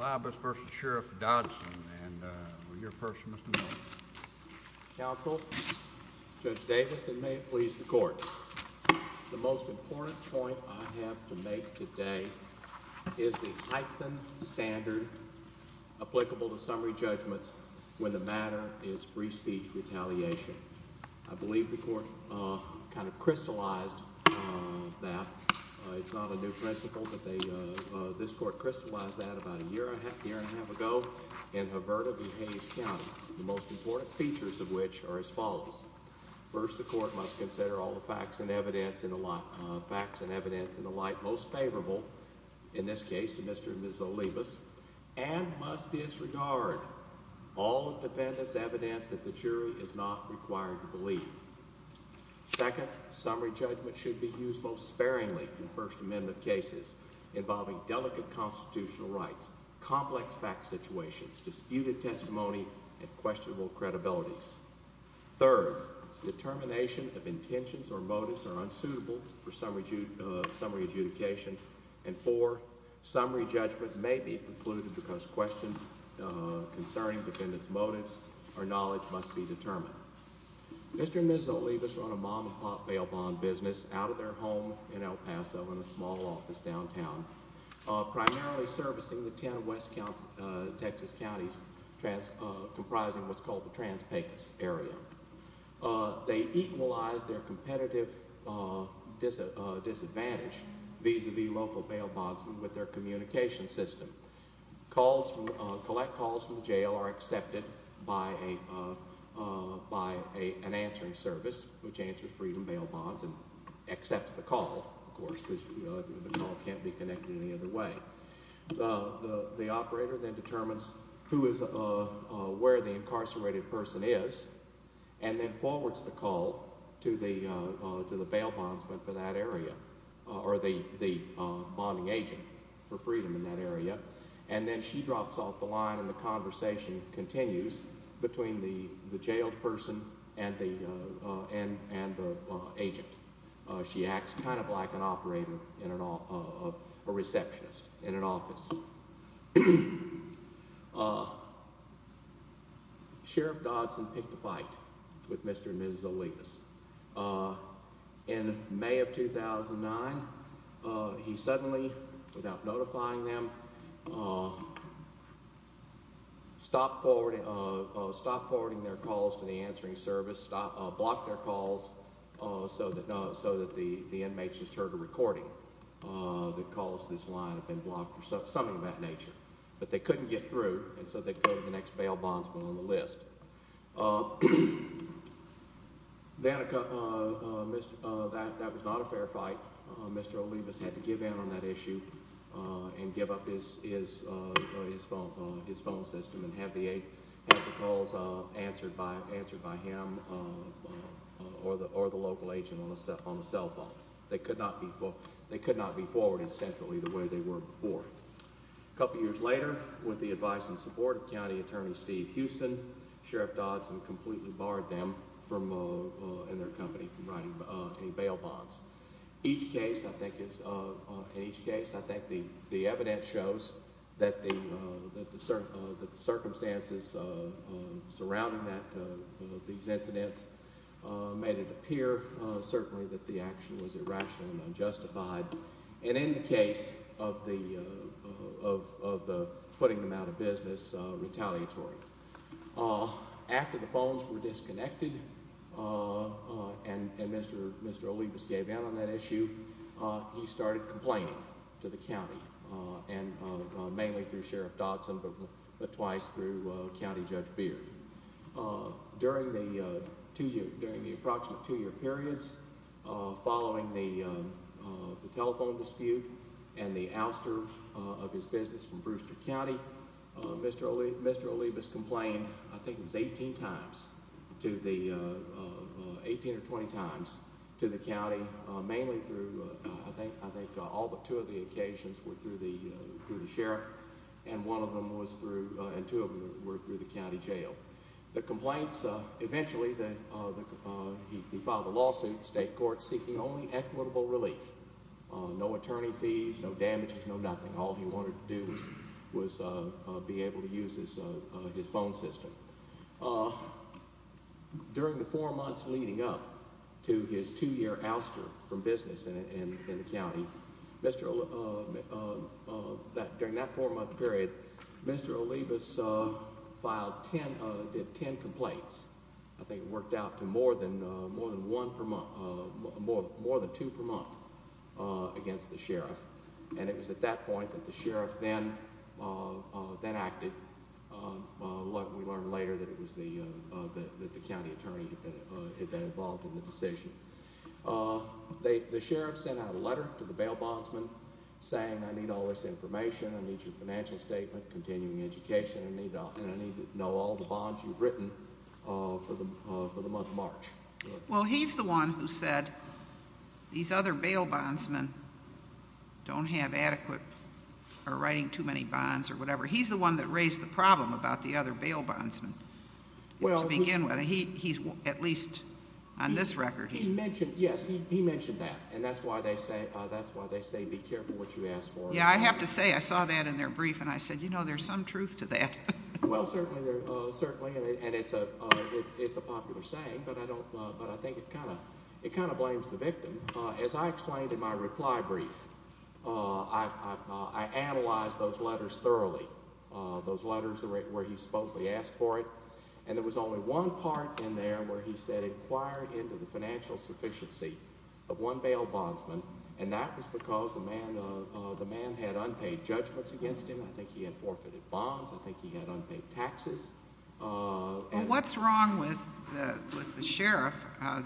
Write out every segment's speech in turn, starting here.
Olibas v. Sheriff Dodson, and we're here first, Mr. Mayor. Counsel, Judge Davis, and may it please the Court. The most important point I have to make today is the heightened standard applicable to summary judgments when the matter is free speech retaliation. I believe the Court kind of crystallized that. It's not a new principle, but this Court crystallized that about a year and a half ago in Haverda v. Hayes County, the most important features of which are as follows. First, the Court must consider all the facts and evidence in the light most favorable, in this case to Mr. and Ms. Olibas, and must disregard all the defendant's evidence that the jury is not required to believe. Second, summary judgment should be used most sparingly in First Amendment cases involving delicate constitutional rights, complex fact situations, disputed testimony, and questionable credibilities. Third, determination of intentions or motives are unsuitable for summary adjudication. And fourth, summary judgment may be precluded Mr. and Ms. Olibas run a mom-and-pop bail bond business out of their home in El Paso in a small office downtown, primarily servicing the ten West Texas counties comprising what's called the Trans-Pecos area. They equalize their competitive disadvantage vis-à-vis local bail bondsmen with their communication system. Collect calls from the jail are accepted by an answering service, which answers freedom bail bonds and accepts the call, of course, because the call can't be connected any other way. The operator then determines who is where the incarcerated person is and then forwards the call to the bail bondsman for that area, or the bonding agent for freedom in that area, and then she drops off the line and the conversation continues between the jailed person and the agent. She acts kind of like an operator in a receptionist in an office. Sheriff Dodson picked a fight with Mr. and Ms. Olibas. In May of 2009, he suddenly, without notifying them, stopped forwarding their calls to the answering service, blocked their calls so that the inmates just heard a recording that calls to this line have been blocked or something of that nature. But they couldn't get through, and so they go to the next bail bondsman on the list. That was not a fair fight. Mr. Olibas had to give in on that issue and give up his phone system and have the calls answered by him or the local agent on the cell phone. They could not be forwarding centrally the way they were before. A couple years later, with the advice and support of County Attorney Steve Houston, Sheriff Dodson completely barred them and their company from writing any bail bonds. In each case, I think the evidence shows that the circumstances surrounding these incidents made it appear certainly that the action was irrational and unjustified. In any case of putting them out of business, retaliatory. After the phones were disconnected and Mr. Olibas gave in on that issue, he started complaining to the county, mainly through Sheriff Dodson, but twice through County Judge Beard. During the approximate two-year periods following the telephone dispute and the ouster of his business from Brewster County, Mr. Olibas complained I think it was 18 or 20 times to the county, mainly through I think all but two of the occasions were through the sheriff and two of them were through the county jail. Eventually, he filed a lawsuit in the state court seeking only equitable relief. No attorney fees, no damages, no nothing. All he wanted to do was be able to use his phone system. During the four months leading up to his two-year ouster from business in the county, during that four-month period, Mr. Olibas did ten complaints. I think it worked out to more than two per month against the sheriff. It was at that point that the sheriff then acted. We learned later that it was the county attorney that had been involved in the decision. The sheriff sent out a letter to the bail bondsman saying, I need all this information, I need your financial statement, continuing education, and I need to know all the bonds you've written for the month of March. Well, he's the one who said these other bail bondsmen don't have adequate or are writing too many bonds or whatever. He's the one that raised the problem about the other bail bondsmen to begin with. So he's at least on this record. Yes, he mentioned that, and that's why they say be careful what you ask for. I have to say I saw that in their brief, and I said, you know, there's some truth to that. Well, certainly, and it's a popular saying, but I think it kind of blames the victim. As I explained in my reply brief, I analyzed those letters thoroughly, those letters where he supposedly asked for it, and there was only one part in there where he said, inquire into the financial sufficiency of one bail bondsman, and that was because the man had unpaid judgments against him. I think he had forfeited bonds. I think he had unpaid taxes. Well, what's wrong with the sheriff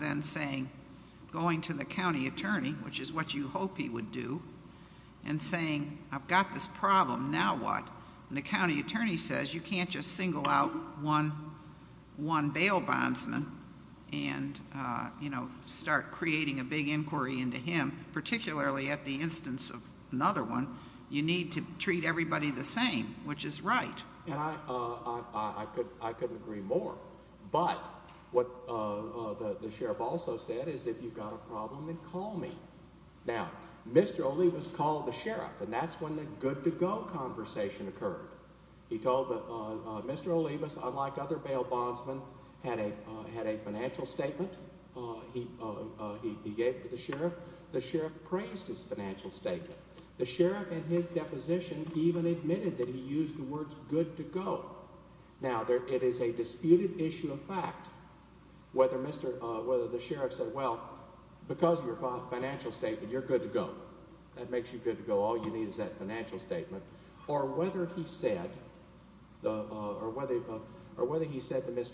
then saying, going to the county attorney, which is what you hope he would do, and saying, I've got this problem, now what? And the county attorney says you can't just single out one bail bondsman and, you know, start creating a big inquiry into him, particularly at the instance of another one. You need to treat everybody the same, which is right. And I couldn't agree more. But what the sheriff also said is if you've got a problem, then call me. Now, Mr. Olivas called the sheriff, and that's when the good-to-go conversation occurred. He told Mr. Olivas, unlike other bail bondsmen, had a financial statement he gave to the sheriff. The sheriff praised his financial statement. The sheriff in his deposition even admitted that he used the words good-to-go. Now, it is a disputed issue of fact whether the sheriff said, well, because of your financial statement, you're good to go. That makes you good to go. All you need is that financial statement. Or whether he said to Mr.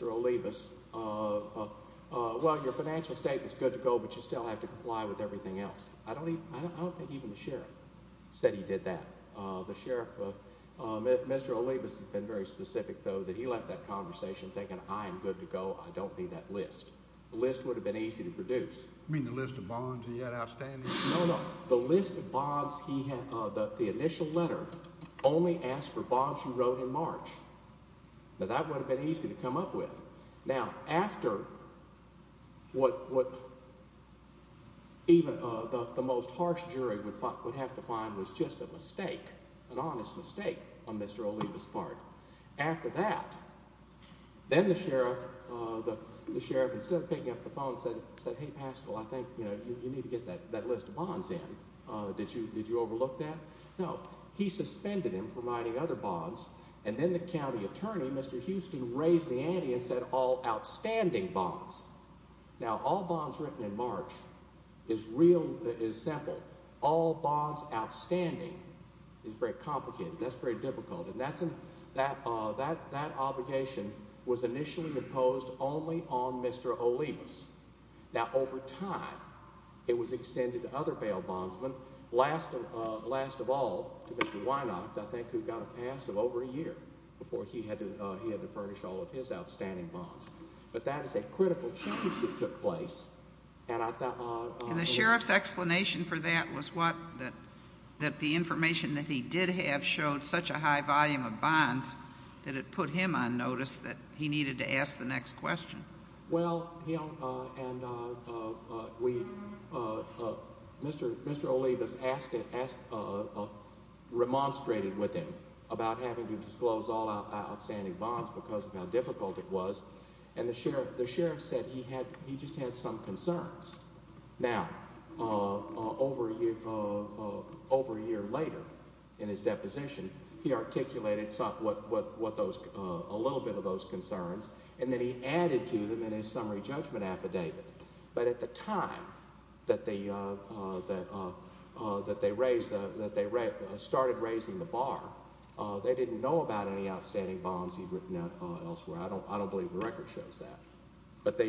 Olivas, well, your financial statement is good to go, but you still have to comply with everything else. I don't think even the sheriff said he did that. The sheriff, Mr. Olivas has been very specific, though, that he left that conversation thinking, I am good to go, I don't need that list. The list would have been easy to produce. You mean the list of bonds he had outstanding? No, no, the list of bonds he had, the initial letter only asked for bonds he wrote in March. Now, that would have been easy to come up with. Now, after what even the most harsh jury would have to find was just a mistake, an honest mistake on Mr. Olivas' part, after that, then the sheriff, instead of picking up the phone and saying, hey, Pascal, I think you need to get that list of bonds in. Did you overlook that? No. He suspended him from writing other bonds, and then the county attorney, Mr. Houston, raised the ante and said all outstanding bonds. Now, all bonds written in March is simple. All bonds outstanding is very complicated. That's very difficult. That obligation was initially imposed only on Mr. Olivas. Now, over time, it was extended to other bail bondsmen, last of all to Mr. Weinacht, I think, who got a pass of over a year before he had to furnish all of his outstanding bonds. But that is a critical change that took place. And the sheriff's explanation for that was what? That the information that he did have showed such a high volume of bonds that it put him on notice that he needed to ask the next question. Well, Mr. Olivas remonstrated with him about having to disclose all outstanding bonds because of how difficult it was. And the sheriff said he just had some concerns. Now, over a year later in his deposition, he articulated a little bit of those concerns, and then he added to them in his summary judgment affidavit. But at the time that they started raising the bar, they didn't know about any outstanding bonds he'd written elsewhere. I don't believe the record shows that. But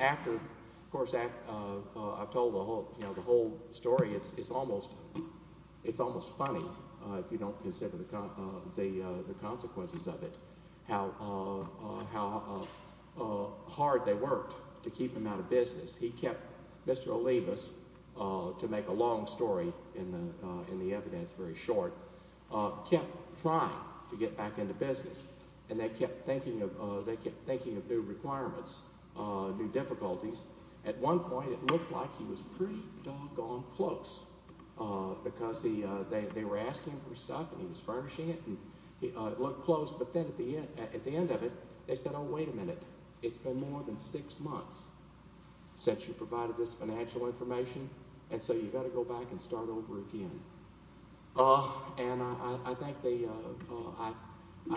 after, of course, I've told the whole story. It's almost funny, if you don't consider the consequences of it, how hard they worked to keep him out of business. He kept Mr. Olivas, to make a long story in the evidence very short, kept trying to get back into business, and they kept thinking of new requirements, new difficulties. At one point, it looked like he was pretty doggone close because they were asking him for stuff, and he was furnishing it, and it looked close. But then at the end of it, they said, Oh, wait a minute, it's been more than six months since you provided this financial information, and so you've got to go back and start over again. And I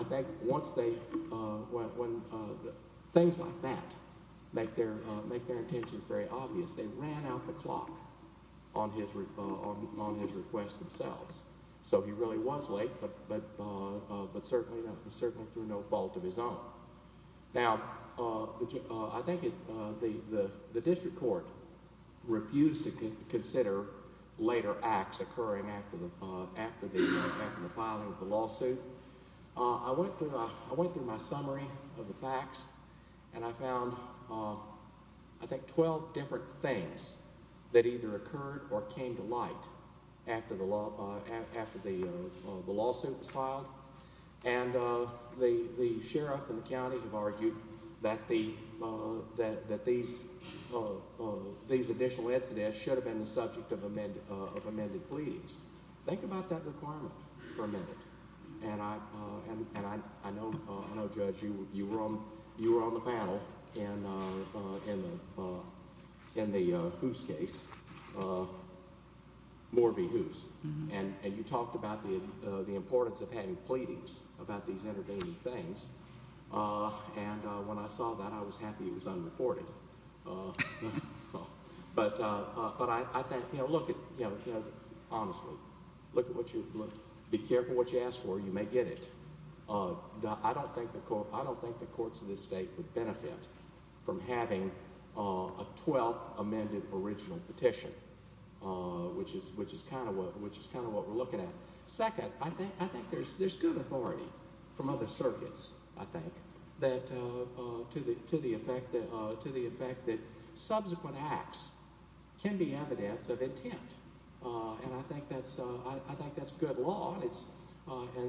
think once they, when things like that make their intentions very obvious, they ran out the clock on his request themselves. So he really was late, but certainly through no fault of his own. Now, I think the district court refused to consider later acts occurring after the filing of the lawsuit. I went through my summary of the facts, and I found, I think, 12 different things that either occurred or came to light after the lawsuit was filed. And the sheriff and the county have argued that these additional incidents should have been the subject of amended pleadings. Think about that requirement for a minute. And I know, Judge, you were on the panel in the Hoos case, Moore v. Hoos, and you talked about the importance of having pleadings about these intervening things. And when I saw that, I was happy it was unreported. But I think, look, honestly, be careful what you ask for. You may get it. I don't think the courts of this state would benefit from having a 12th amended original petition, which is kind of what we're looking at. Second, I think there's good authority from other circuits, I think, to the effect that subsequent acts can be evidence of intent. And I think that's good law,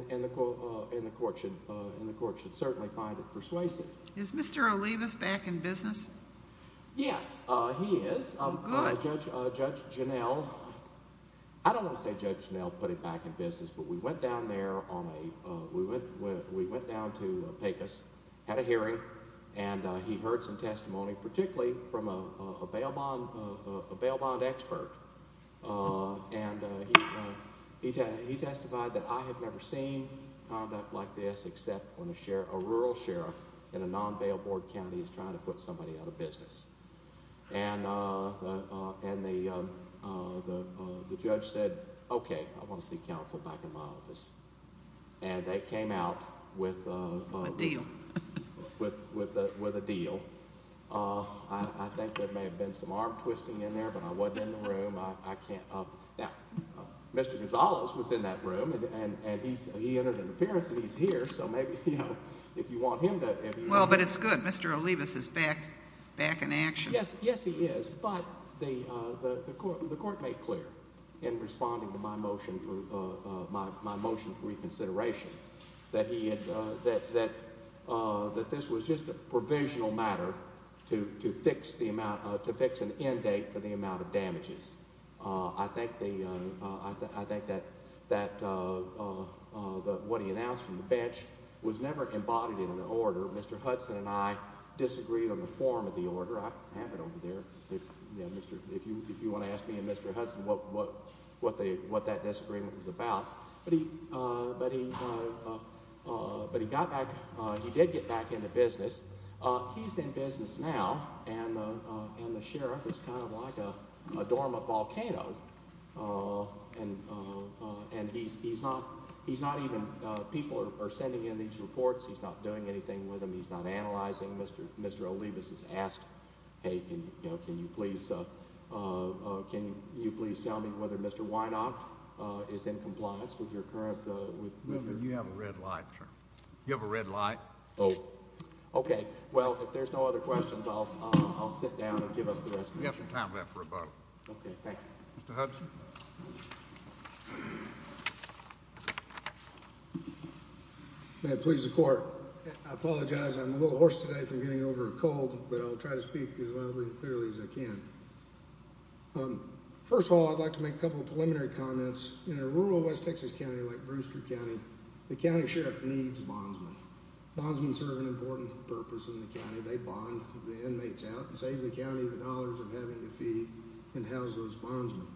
and the court should certainly find it persuasive. Is Mr. Olivas back in business? Yes, he is. Judge Janell, I don't want to say Judge Janell put him back in business, but we went down there to Pecos, had a hearing, and he heard some testimony, particularly from a bail bond expert, and he testified that I have never seen conduct like this except when a rural sheriff in a non-bail board county is trying to put somebody out of business. And the judge said, okay, I want to see counsel back in my office. And they came out with a deal. I think there may have been some arm twisting in there, but I wasn't in the room. Mr. Gonzalez was in that room, and he entered an appearance, and he's here, so maybe if you want him to. Well, but it's good. Mr. Olivas is back in action. Yes, he is. But the court made clear in responding to my motion for reconsideration that this was just a provisional matter to fix an end date for the amount of damages. I think that what he announced from the bench was never embodied in an order. Mr. Hudson and I disagreed on the form of the order. I have it over there. If you want to ask me and Mr. Hudson what that disagreement was about. But he got back. He did get back into business. He's in business now, and the sheriff is kind of like a dorm, a volcano. And he's not even—people are sending in these reports. He's not doing anything with them. He's not analyzing. Mr. Olivas has asked, hey, can you please tell me whether Mr. Weinacht is in compliance with your current— You have a red light, sir. You have a red light. Oh. Okay. Well, if there's no other questions, I'll sit down and give up the rest of it. You have some time left for a vote. Okay, thank you. Mr. Hudson. May it please the court. I apologize. I'm a little hoarse today from getting over a cold, but I'll try to speak as loudly and clearly as I can. First of all, I'd like to make a couple of preliminary comments. In a rural West Texas county like Brewster County, the county sheriff needs bondsmen. Bondsmen serve an important purpose in the county. They bond the inmates out and save the county the dollars of having to feed and house those bondsmen.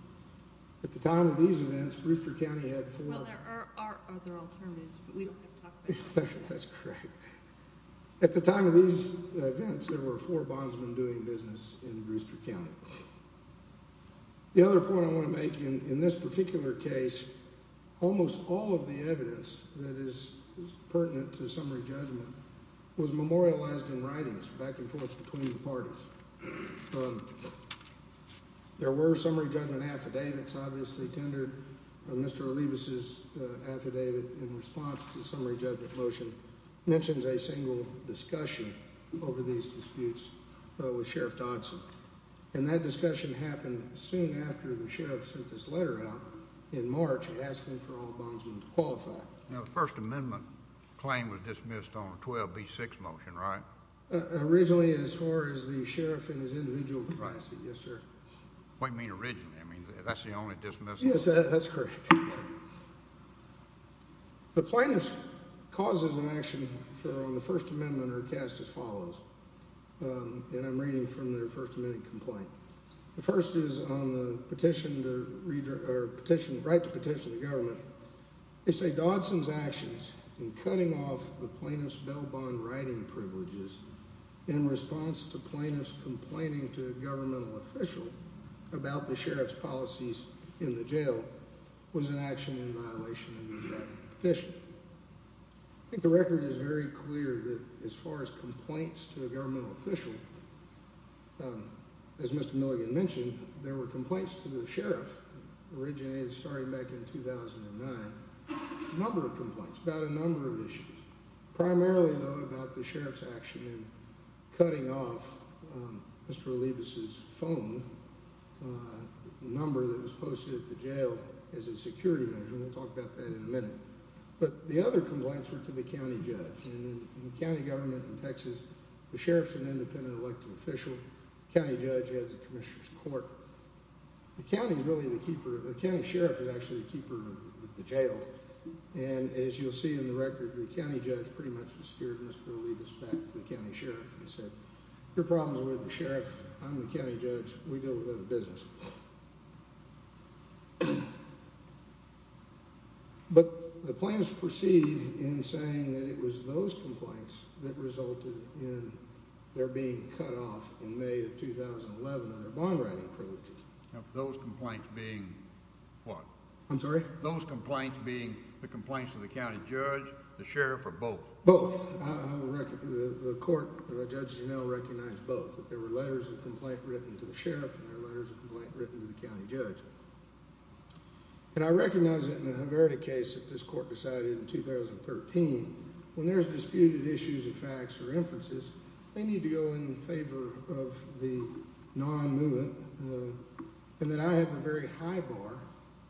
At the time of these events, Brewster County had four— Well, there are other alternatives, but we have to talk about— That's correct. At the time of these events, there were four bondsmen doing business in Brewster County. The other point I want to make in this particular case, almost all of the evidence that is pertinent to summary judgment was memorialized in writings back and forth between the parties. There were summary judgment affidavits obviously tendered. Mr. Olivas' affidavit in response to the summary judgment motion mentions a single discussion over these disputes with Sheriff Dodson. That discussion happened soon after the sheriff sent this letter out in March asking for all bondsmen to qualify. The First Amendment claim was dismissed on a 12B6 motion, right? Originally, as far as the sheriff and his individual privacy, yes, sir. What do you mean originally? That's the only dismissal? Yes, that's correct. The plaintiffs' causes of action on the First Amendment are cast as follows. And I'm reading from their First Amendment complaint. The first is on the petition to—right to petition the government. They say, in the jail was an action in violation of the right to petition. I think the record is very clear that as far as complaints to a governmental official, as Mr. Milligan mentioned, there were complaints to the sheriff that originated starting back in 2009. A number of complaints about a number of issues, primarily, though, about the sheriff's action in cutting off Mr. Olivas' phone. A number that was posted at the jail as a security measure. And we'll talk about that in a minute. But the other complaints were to the county judge. In county government in Texas, the sheriff's an independent elected official. The county judge heads the commissioner's court. The county's really the keeper. The county sheriff is actually the keeper of the jail. And as you'll see in the record, the county judge pretty much steered Mr. Olivas back to the county sheriff and said, Your problem is with the sheriff. I'm the county judge. We deal with other business. But the plaintiffs proceed in saying that it was those complaints that resulted in their being cut off in May of 2011 under bond writing privileges. Those complaints being what? I'm sorry? Those complaints being the complaints to the county judge, the sheriff, or both? Both. The court, Judge Janelle, recognized both. That there were letters of complaint written to the sheriff and there were letters of complaint written to the county judge. And I recognize that in a Haverda case that this court decided in 2013, when there's disputed issues of facts or inferences, they need to go in favor of the non-movement. And that I have a very high bar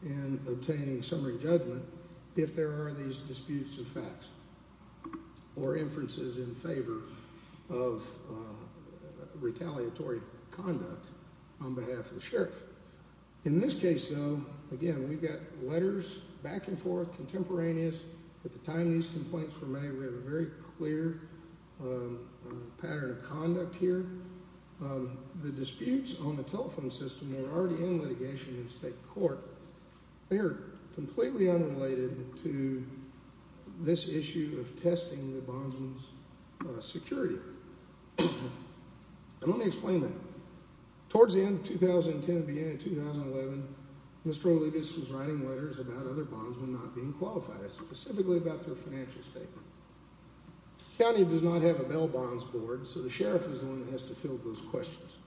in obtaining summary judgment if there are these disputes of facts. Or inferences in favor of retaliatory conduct on behalf of the sheriff. In this case, though, again, we've got letters back and forth, contemporaneous. At the time these complaints were made, we have a very clear pattern of conduct here. The disputes on the telephone system were already in litigation in state court. They are completely unrelated to this issue of testing the bondsman's security. And let me explain that. Towards the end of 2010, beginning of 2011, Mr. Olivas was writing letters about other bondsmen not being qualified, specifically about their financial statement. The county does not have a bail bonds board, so the sheriff is the one that has to fill those questions.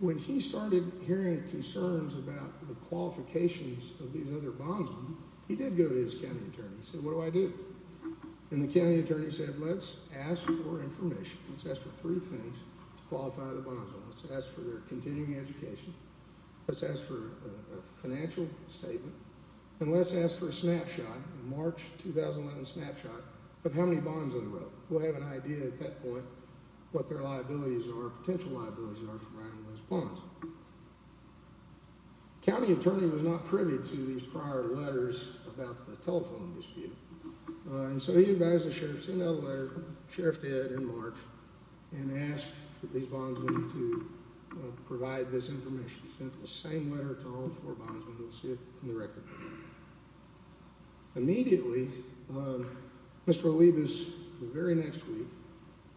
When he started hearing concerns about the qualifications of these other bondsmen, he did go to his county attorney. He said, what do I do? And the county attorney said, let's ask for information. Let's ask for three things to qualify the bondsmen. Let's ask for their continuing education. Let's ask for a financial statement. And let's ask for a snapshot, a March 2011 snapshot, of how many bonds they wrote. We'll have an idea at that point what their liabilities are, potential liabilities are, for writing those bonds. The county attorney was not privy to these prior letters about the telephone dispute. And so he advised the sheriff, sent out a letter, sheriff did in March, and asked for these bondsmen to provide this information. He sent the same letter to all four bondsmen. You'll see it in the record. Immediately, Mr. Olivas, the very next week,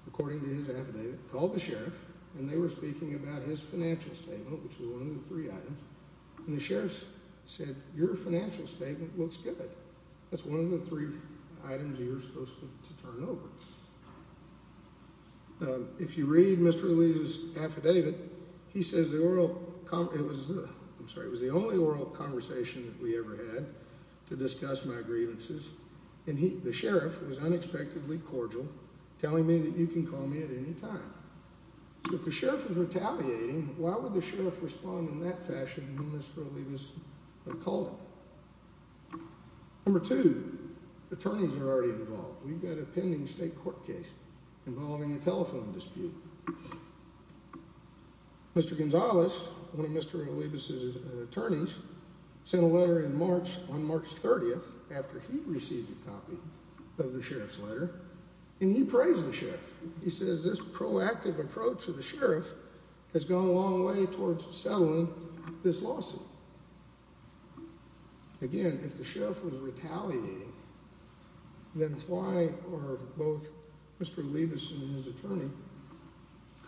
according to his affidavit, called the sheriff, and they were speaking about his financial statement, which was one of the three items. And the sheriff said, your financial statement looks good. That's one of the three items you're supposed to turn over. If you read Mr. Olivas' affidavit, he says the oral, I'm sorry, it was the only oral conversation that we ever had to discuss my grievances. And the sheriff was unexpectedly cordial, telling me that you can call me at any time. If the sheriff is retaliating, why would the sheriff respond in that fashion to whom Mr. Olivas called him? Number two, attorneys are already involved. We've got a pending state court case involving a telephone dispute. Mr. Gonzalez, one of Mr. Olivas' attorneys, sent a letter in March, on March 30th, after he received a copy of the sheriff's letter, and he praised the sheriff. He says this proactive approach of the sheriff has gone a long way towards settling this lawsuit. Again, if the sheriff was retaliating, then why are both Mr. Olivas and his attorney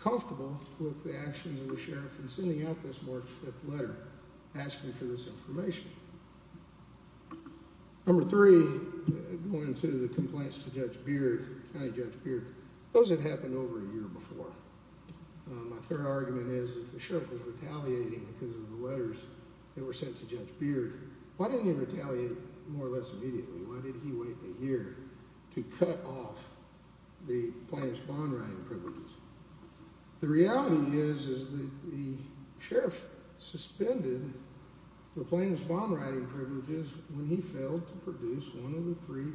comfortable with the actions of the sheriff in sending out this March 5th letter, asking for this information? Number three, going to the complaints to Judge Beard, kind of Judge Beard, those had happened over a year before. My third argument is, if the sheriff was retaliating because of the letters that were sent to Judge Beard, why didn't he retaliate more or less immediately? Why did he wait a year to cut off the plaintiff's bond-writing privileges? The reality is that the sheriff suspended the plaintiff's bond-writing privileges when he failed to produce one of the three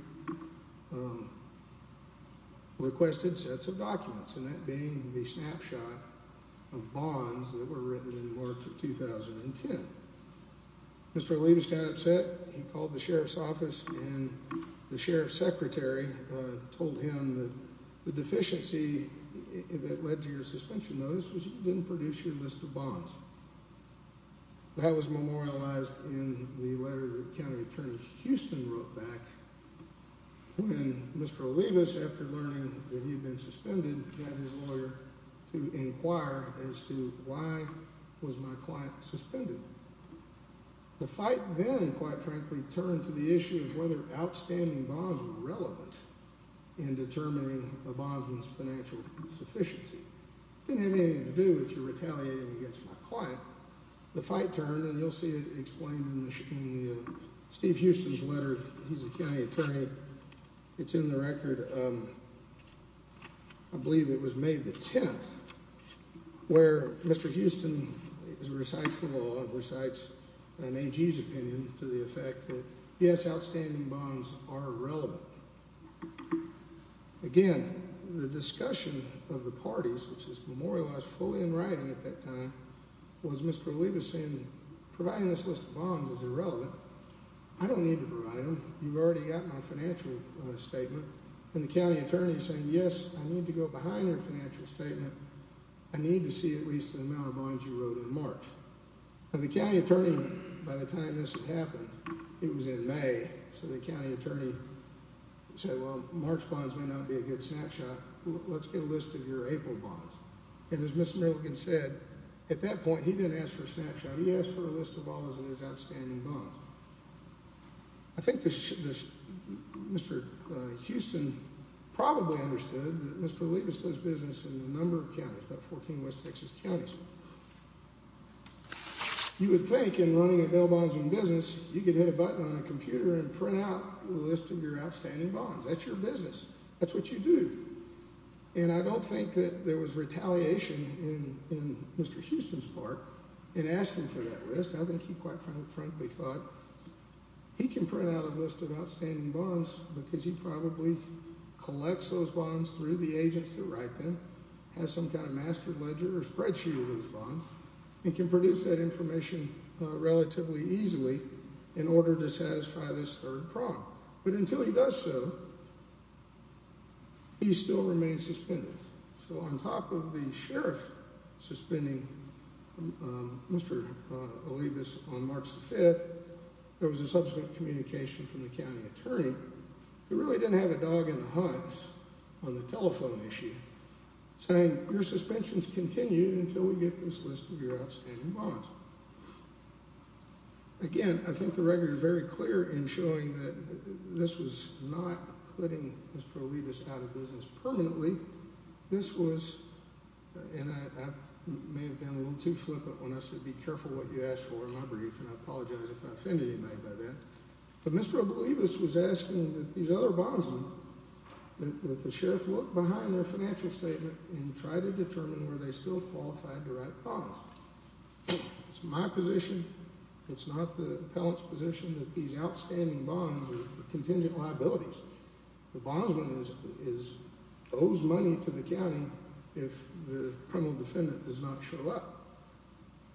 requested sets of documents, and that being the snapshot of bonds that were written in March of 2010. Mr. Olivas got upset. He called the sheriff's office, and the sheriff's secretary told him that the deficiency that led to your suspension notice was that you didn't produce your list of bonds. That was memorialized in the letter that County Attorney Houston wrote back when Mr. Olivas, after learning that he had been suspended, had his lawyer to inquire as to why was my client suspended. The fight then, quite frankly, turned to the issue of whether outstanding bonds were relevant in determining a bondsman's financial sufficiency. It didn't have anything to do with your retaliating against my client. The fight turned, and you'll see it explained in Steve Houston's letter. He's the county attorney. It's in the record. I believe it was May the 10th, where Mr. Houston recites the law and recites an AG's opinion to the effect that, yes, outstanding bonds are relevant. Again, the discussion of the parties, which is memorialized fully in writing at that time, was Mr. Olivas saying that providing this list of bonds is irrelevant. I don't need to provide them. You've already got my financial statement. And the county attorney saying, yes, I need to go behind your financial statement. I need to see at least the amount of bonds you wrote in March. And the county attorney, by the time this had happened, it was in May, so the county attorney said, well, March bonds may not be a good snapshot. Let's get a list of your April bonds. And as Mr. Merrigan said, at that point, he didn't ask for a snapshot. He asked for a list of all his outstanding bonds. I think Mr. Houston probably understood that Mr. Olivas does business in a number of counties, about 14 West Texas counties. You would think in running a bail bonds business, you could hit a button on a computer and print out a list of your outstanding bonds. That's your business. That's what you do. And I don't think that there was retaliation in Mr. Houston's part in asking for that list. I think he quite frankly thought he can print out a list of outstanding bonds because he probably collects those bonds through the agents that write them, has some kind of master ledger or spreadsheet of those bonds. He can produce that information relatively easily in order to satisfy this third prong. But until he does so, he still remains suspended. So on top of the sheriff suspending Mr. Olivas on March 5th, there was a subsequent communication from the county attorney who really didn't have a dog in the hunt on the telephone issue, saying your suspensions continue until we get this list of your outstanding bonds. Again, I think the record is very clear in showing that this was not putting Mr. Olivas out of business permanently. This was, and I may have been a little too flippant when I said be careful what you ask for in my brief, and I apologize if I offended anybody by that. But Mr. Olivas was asking that these other bondsmen, that the sheriff look behind their financial statement and try to determine were they still qualified to write bonds. It's my position, it's not the appellant's position, that these outstanding bonds are contingent liabilities. The bondsman owes money to the county if the criminal defendant does not show up.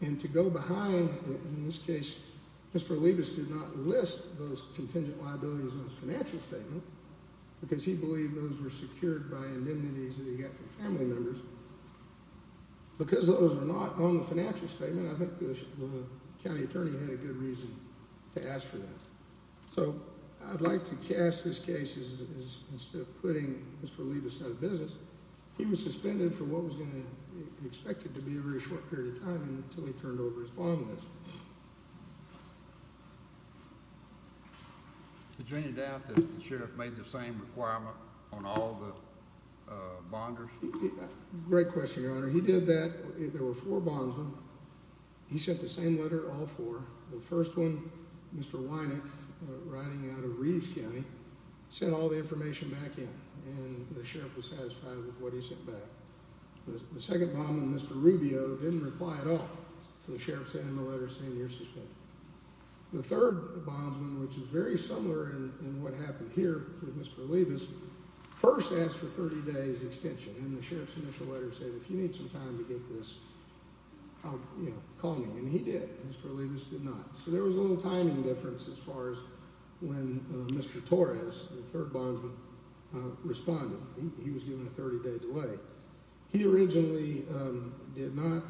And to go behind, in this case, Mr. Olivas did not list those contingent liabilities on his financial statement because he believed those were secured by indemnities that he got from family members. Because those were not on the financial statement, I think the county attorney had a good reason to ask for that. So I'd like to cast this case as, instead of putting Mr. Olivas out of business, he was suspended for what was going to be expected to be a very short period of time until he turned over his bond list. Is there any doubt that the sheriff made the same requirement on all the bonders? Great question, Your Honor. He did that. There were four bondsmen. He sent the same letter to all four. The first one, Mr. Weineck, riding out of Reeves County, sent all the information back in and the sheriff was satisfied with what he sent back. The second bondman, Mr. Rubio, didn't reply at all. So the sheriff sent him a letter saying you're suspended. The third bondsman, which is very similar in what happened here with Mr. Olivas, first asked for 30 days extension. And the sheriff's initial letter said if you need some time to get this, call me. And he did. Mr. Olivas did not. So there was a little timing difference as far as when Mr. Torres, the third bondsman, responded. He was given a 30 day delay. He originally did not,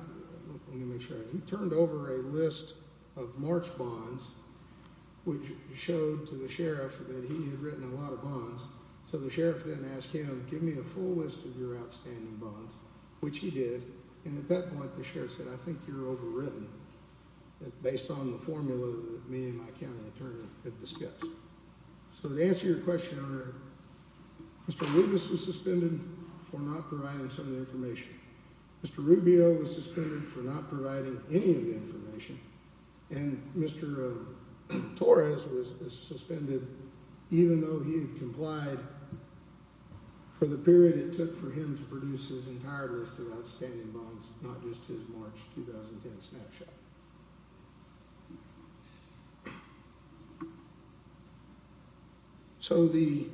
let me make sure, he turned over a list of March bonds, which showed to the sheriff that he had written a lot of bonds. So the sheriff then asked him, give me a full list of your outstanding bonds, which he did. And at that point, the sheriff said, I think you're overwritten based on the formula that me and my county attorney had discussed. So to answer your question, Your Honor, Mr. Olivas was suspended for not providing some of the information. Mr. Rubio was suspended for not providing any of the information. And Mr. Torres was suspended even though he had complied for the period it took for him to produce his entire list of outstanding bonds, not just his March 2010 snapshot. So the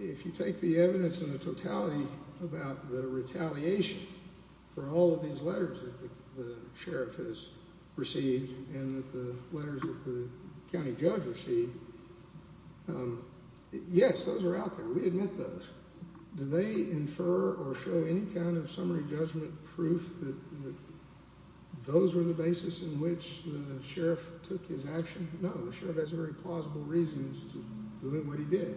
if you take the evidence in the totality about the retaliation for all of these letters that the sheriff has received and the letters that the county judge received, yes, those are out there. We admit those. Do they infer or show any kind of summary judgment proof that those were the basis in which the sheriff took his action? No, the sheriff has very plausible reasons to believe what he did.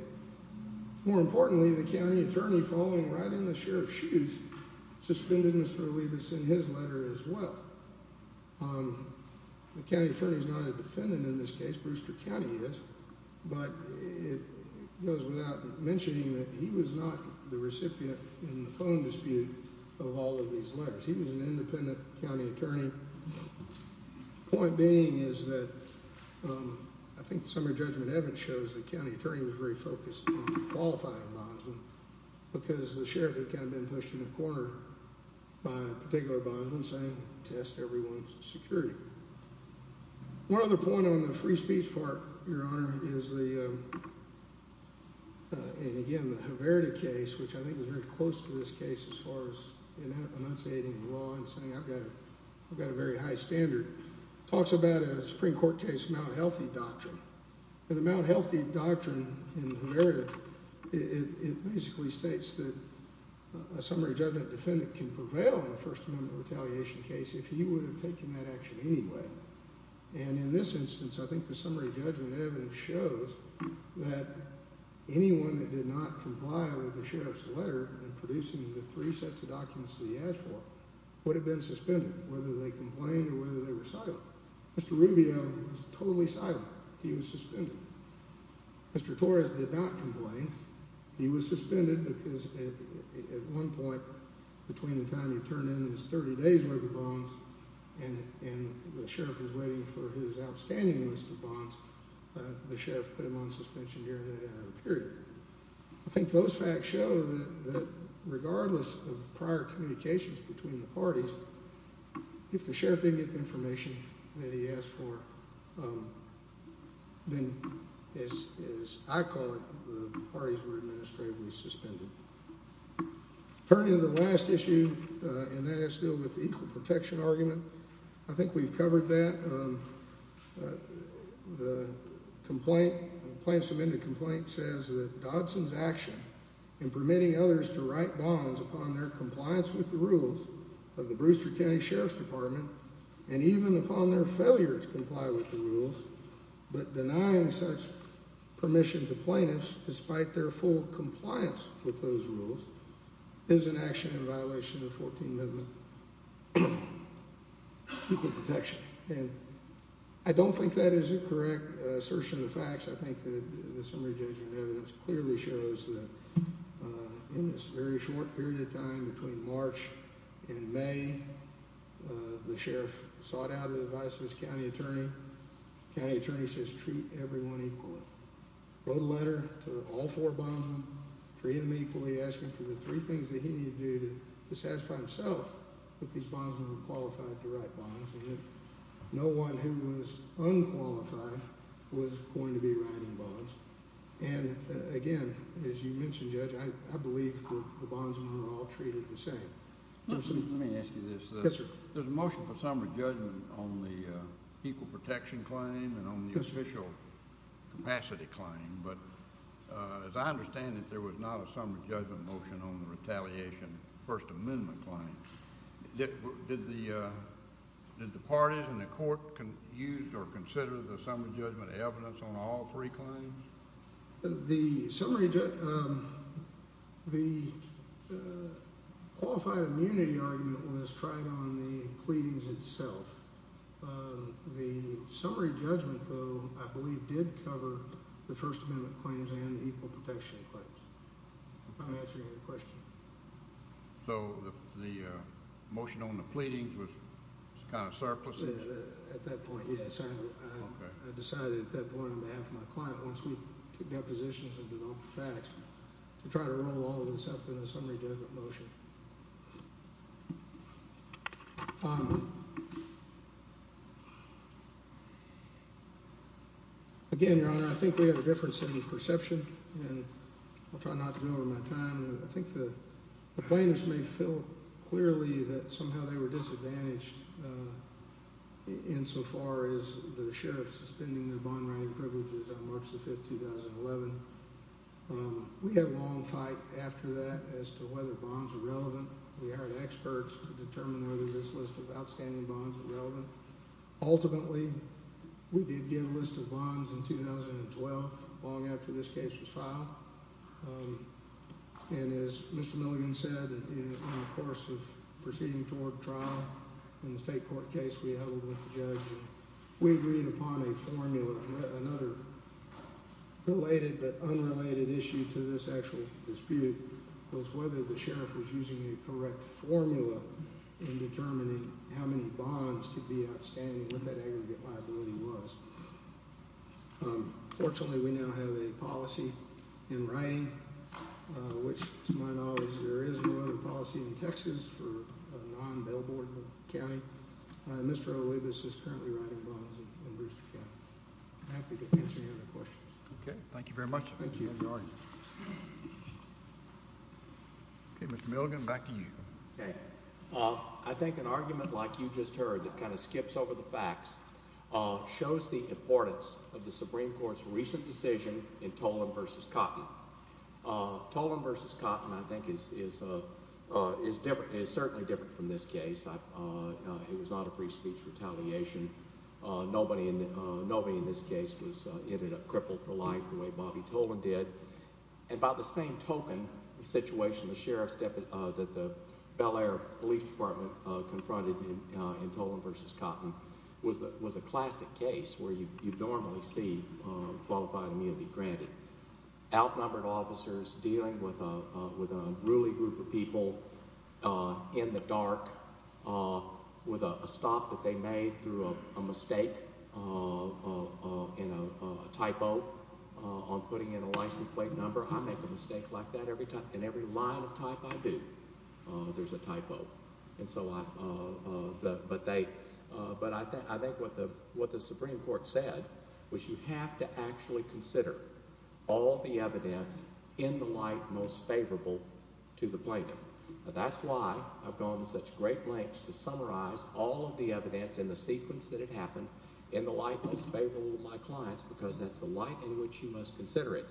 More importantly, the county attorney falling right in the sheriff's shoes, suspended Mr. Olivas in his letter as well. The county attorney is not a defendant in this case. Brewster County is. But it goes without mentioning that he was not the recipient in the phone dispute of all of these letters. He was an independent county attorney. Point being is that I think summary judgment evidence shows the county attorney was very focused on qualifying bondsman because the sheriff had kind of been pushed in the corner by a particular bondman saying test everyone's security. One other point on the free speech part, Your Honor, is the. And again, the Haverda case, which I think is very close to this case as far as enunciating the law and saying I've got I've got a very high standard talks about a Supreme Court case, not healthy doctrine. The Mount healthy doctrine in Haverda, it basically states that a summary judgment defendant can prevail in the First Amendment retaliation case if he would have taken that action anyway. And in this instance, I think the summary judgment evidence shows that anyone that did not comply with the sheriff's letter and producing the three sets of documents that he asked for would have been suspended, whether they complained or whether they were silent. Mr. Rubio was totally silent. He was suspended. Mr. Torres did not complain. He was suspended because at one point between the time you turn in his 30 days worth of bonds and the sheriff is waiting for his outstanding list of bonds, the sheriff put him on suspension here. I think those facts show that regardless of prior communications between the parties, if the sheriff didn't get the information that he asked for, then, as I call it, the parties were administratively suspended. Turning to the last issue, and that is still with equal protection argument. I think we've covered that. The complaint plaintiff's amended complaint says that Dodson's action in permitting others to write bonds upon their compliance with the rules of the Brewster County Sheriff's Department and even upon their failure to comply with the rules. But denying such permission to plaintiffs, despite their full compliance with those rules, is an action in violation of 14. Equal protection. And I don't think that is a correct assertion of facts. I think that the summary judgment evidence clearly shows that in this very short period of time between March and May, the sheriff sought out the advice of his county attorney. The county attorney says treat everyone equally. Wrote a letter to all four bondsmen, treating them equally, asking for the three things that he needed to do to satisfy himself that these bondsmen were qualified to write bonds. And that no one who was unqualified was going to be writing bonds. And, again, as you mentioned, Judge, I believe that the bondsmen were all treated the same. Let me ask you this. Yes, sir. There's a motion for summary judgment on the equal protection claim and on the official capacity claim. But as I understand it, there was not a summary judgment motion on the retaliation First Amendment claim. Did the parties in the court use or consider the summary judgment evidence on all three claims? The summary, the qualified immunity argument was tried on the pleadings itself. The summary judgment, though, I believe did cover the First Amendment claims and the equal protection claims. If I'm answering your question. So the motion on the pleadings was kind of surpluses? At that point, yes. I decided at that point on behalf of my client, once we got positions and developed the facts, to try to roll all of this up in a summary judgment motion. Again, Your Honor, I think we have a difference in perception, and I'll try not to go over my time. I think the plaintiffs may feel clearly that somehow they were disadvantaged insofar as the sheriff suspending their bond-writing privileges on March the 5th, 2011. We had a long fight after that as to whether bonds were relevant. We hired experts to determine whether this list of outstanding bonds were relevant. Ultimately, we did get a list of bonds in 2012, long after this case was filed. And as Mr. Milligan said, in the course of proceeding toward trial in the state court case we held with the judge, we agreed upon a formula. Another related but unrelated issue to this actual dispute was whether the sheriff was using a correct formula in determining how many bonds could be outstanding, what that aggregate liability was. Fortunately, we now have a policy in writing, which to my knowledge there is no other policy in Texas for a non-billboard county. Mr. Olivas is currently writing bonds in Brewster County. I'm happy to answer any other questions. Okay, thank you very much. Thank you. Okay, Mr. Milligan, back to you. I think an argument like you just heard that kind of skips over the facts shows the importance of the Supreme Court's recent decision in Tolan v. Cotton. Tolan v. Cotton I think is certainly different from this case. It was not a free speech retaliation. Nobody in this case ended up crippled for life the way Bobby Tolan did. And by the same token, the situation the sheriff – that the Bel Air Police Department confronted in Tolan v. Cotton was a classic case where you normally see qualified immunity granted. Outnumbered officers dealing with a ruling group of people in the dark with a stop that they made through a mistake in a typo on putting in a license plate number. I make a mistake like that every time. In every line of type I do, there's a typo. But I think what the Supreme Court said was you have to actually consider all the evidence in the light most favorable to the plaintiff. That's why I've gone to such great lengths to summarize all of the evidence in the sequence that it happened in the light most favorable to my clients because that's the light in which you must consider it.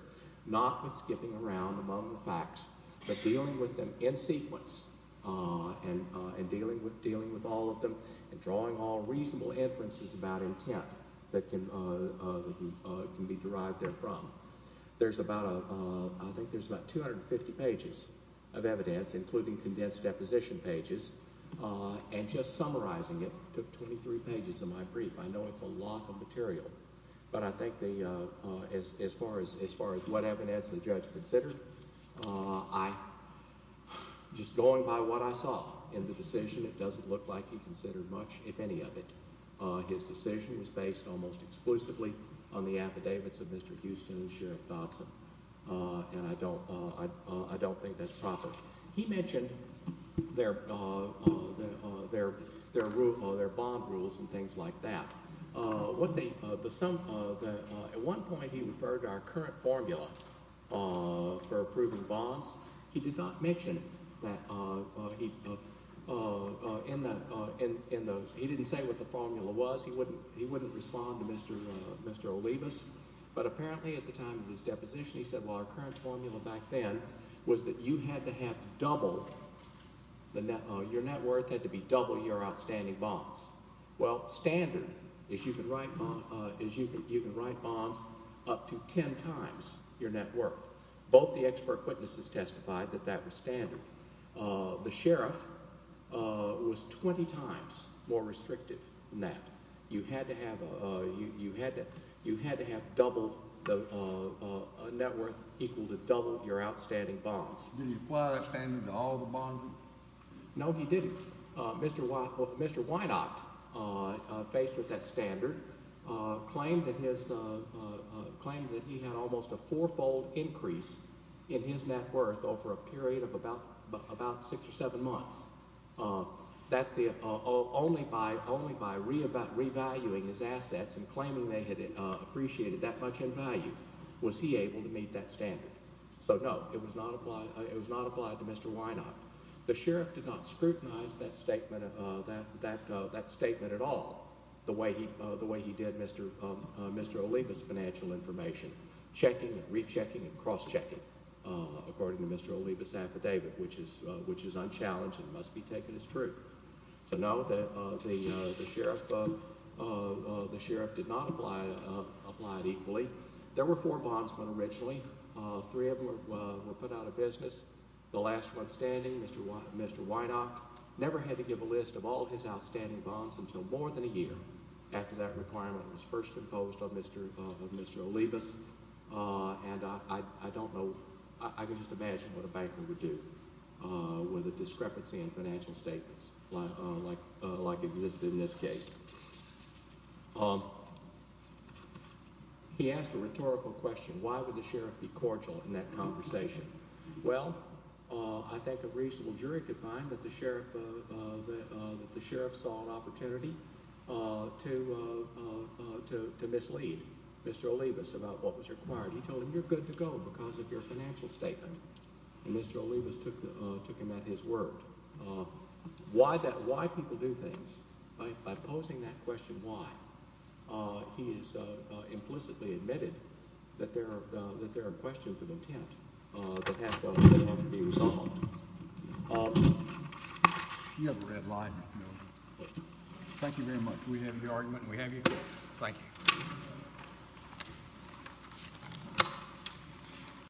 Not with skipping around among the facts but dealing with them in sequence and dealing with all of them and drawing all reasonable inferences about intent that can be derived therefrom. There's about – I think there's about 250 pages of evidence, including condensed deposition pages. And just summarizing it took 23 pages of my brief. I know it's a lot of material, but I think as far as what evidence the judge considered, just going by what I saw in the decision, it doesn't look like he considered much, if any, of it. His decision was based almost exclusively on the affidavits of Mr. Houston and Sheriff Dodson, and I don't think that's proper. He mentioned their bond rules and things like that. At one point he referred to our current formula for approving bonds. He did not mention that – he didn't say what the formula was. He wouldn't respond to Mr. Olivas, but apparently at the time of his deposition he said, well, our current formula back then was that you had to have double – your net worth had to be double your outstanding bonds. Well, standard is you can write bonds up to ten times your net worth. Both the expert witnesses testified that that was standard. The sheriff was 20 times more restrictive than that. You had to have double – a net worth equal to double your outstanding bonds. Did he apply that standard to all the bonds? No, he didn't. Mr. Weinacht, faced with that standard, claimed that he had almost a fourfold increase in his net worth over a period of about six or seven months. That's the – only by revaluing his assets and claiming they had appreciated that much in value was he able to meet that standard. So, no, it was not applied to Mr. Weinacht. The sheriff did not scrutinize that statement at all the way he did Mr. Olivas' financial information, checking and rechecking and cross-checking, according to Mr. Olivas' affidavit, which is unchallenged and must be taken as true. So, no, the sheriff did not apply it equally. There were four bondsmen originally. Three of them were put out of business. The last one standing, Mr. Weinacht, never had to give a list of all his outstanding bonds until more than a year after that requirement was first imposed on Mr. Olivas. And I don't know – I can just imagine what a banker would do with a discrepancy in financial statements like existed in this case. He asked a rhetorical question. Why would the sheriff be cordial in that conversation? Well, I think a reasonable jury could find that the sheriff saw an opportunity to mislead Mr. Olivas about what was required. He told him, you're good to go because of your financial statement. And Mr. Olivas took him at his word. So why people do things, by posing that question why, he has implicitly admitted that there are questions of intent that have to be resolved. You have a red line. Thank you very much. We have your argument and we have your case. Thank you.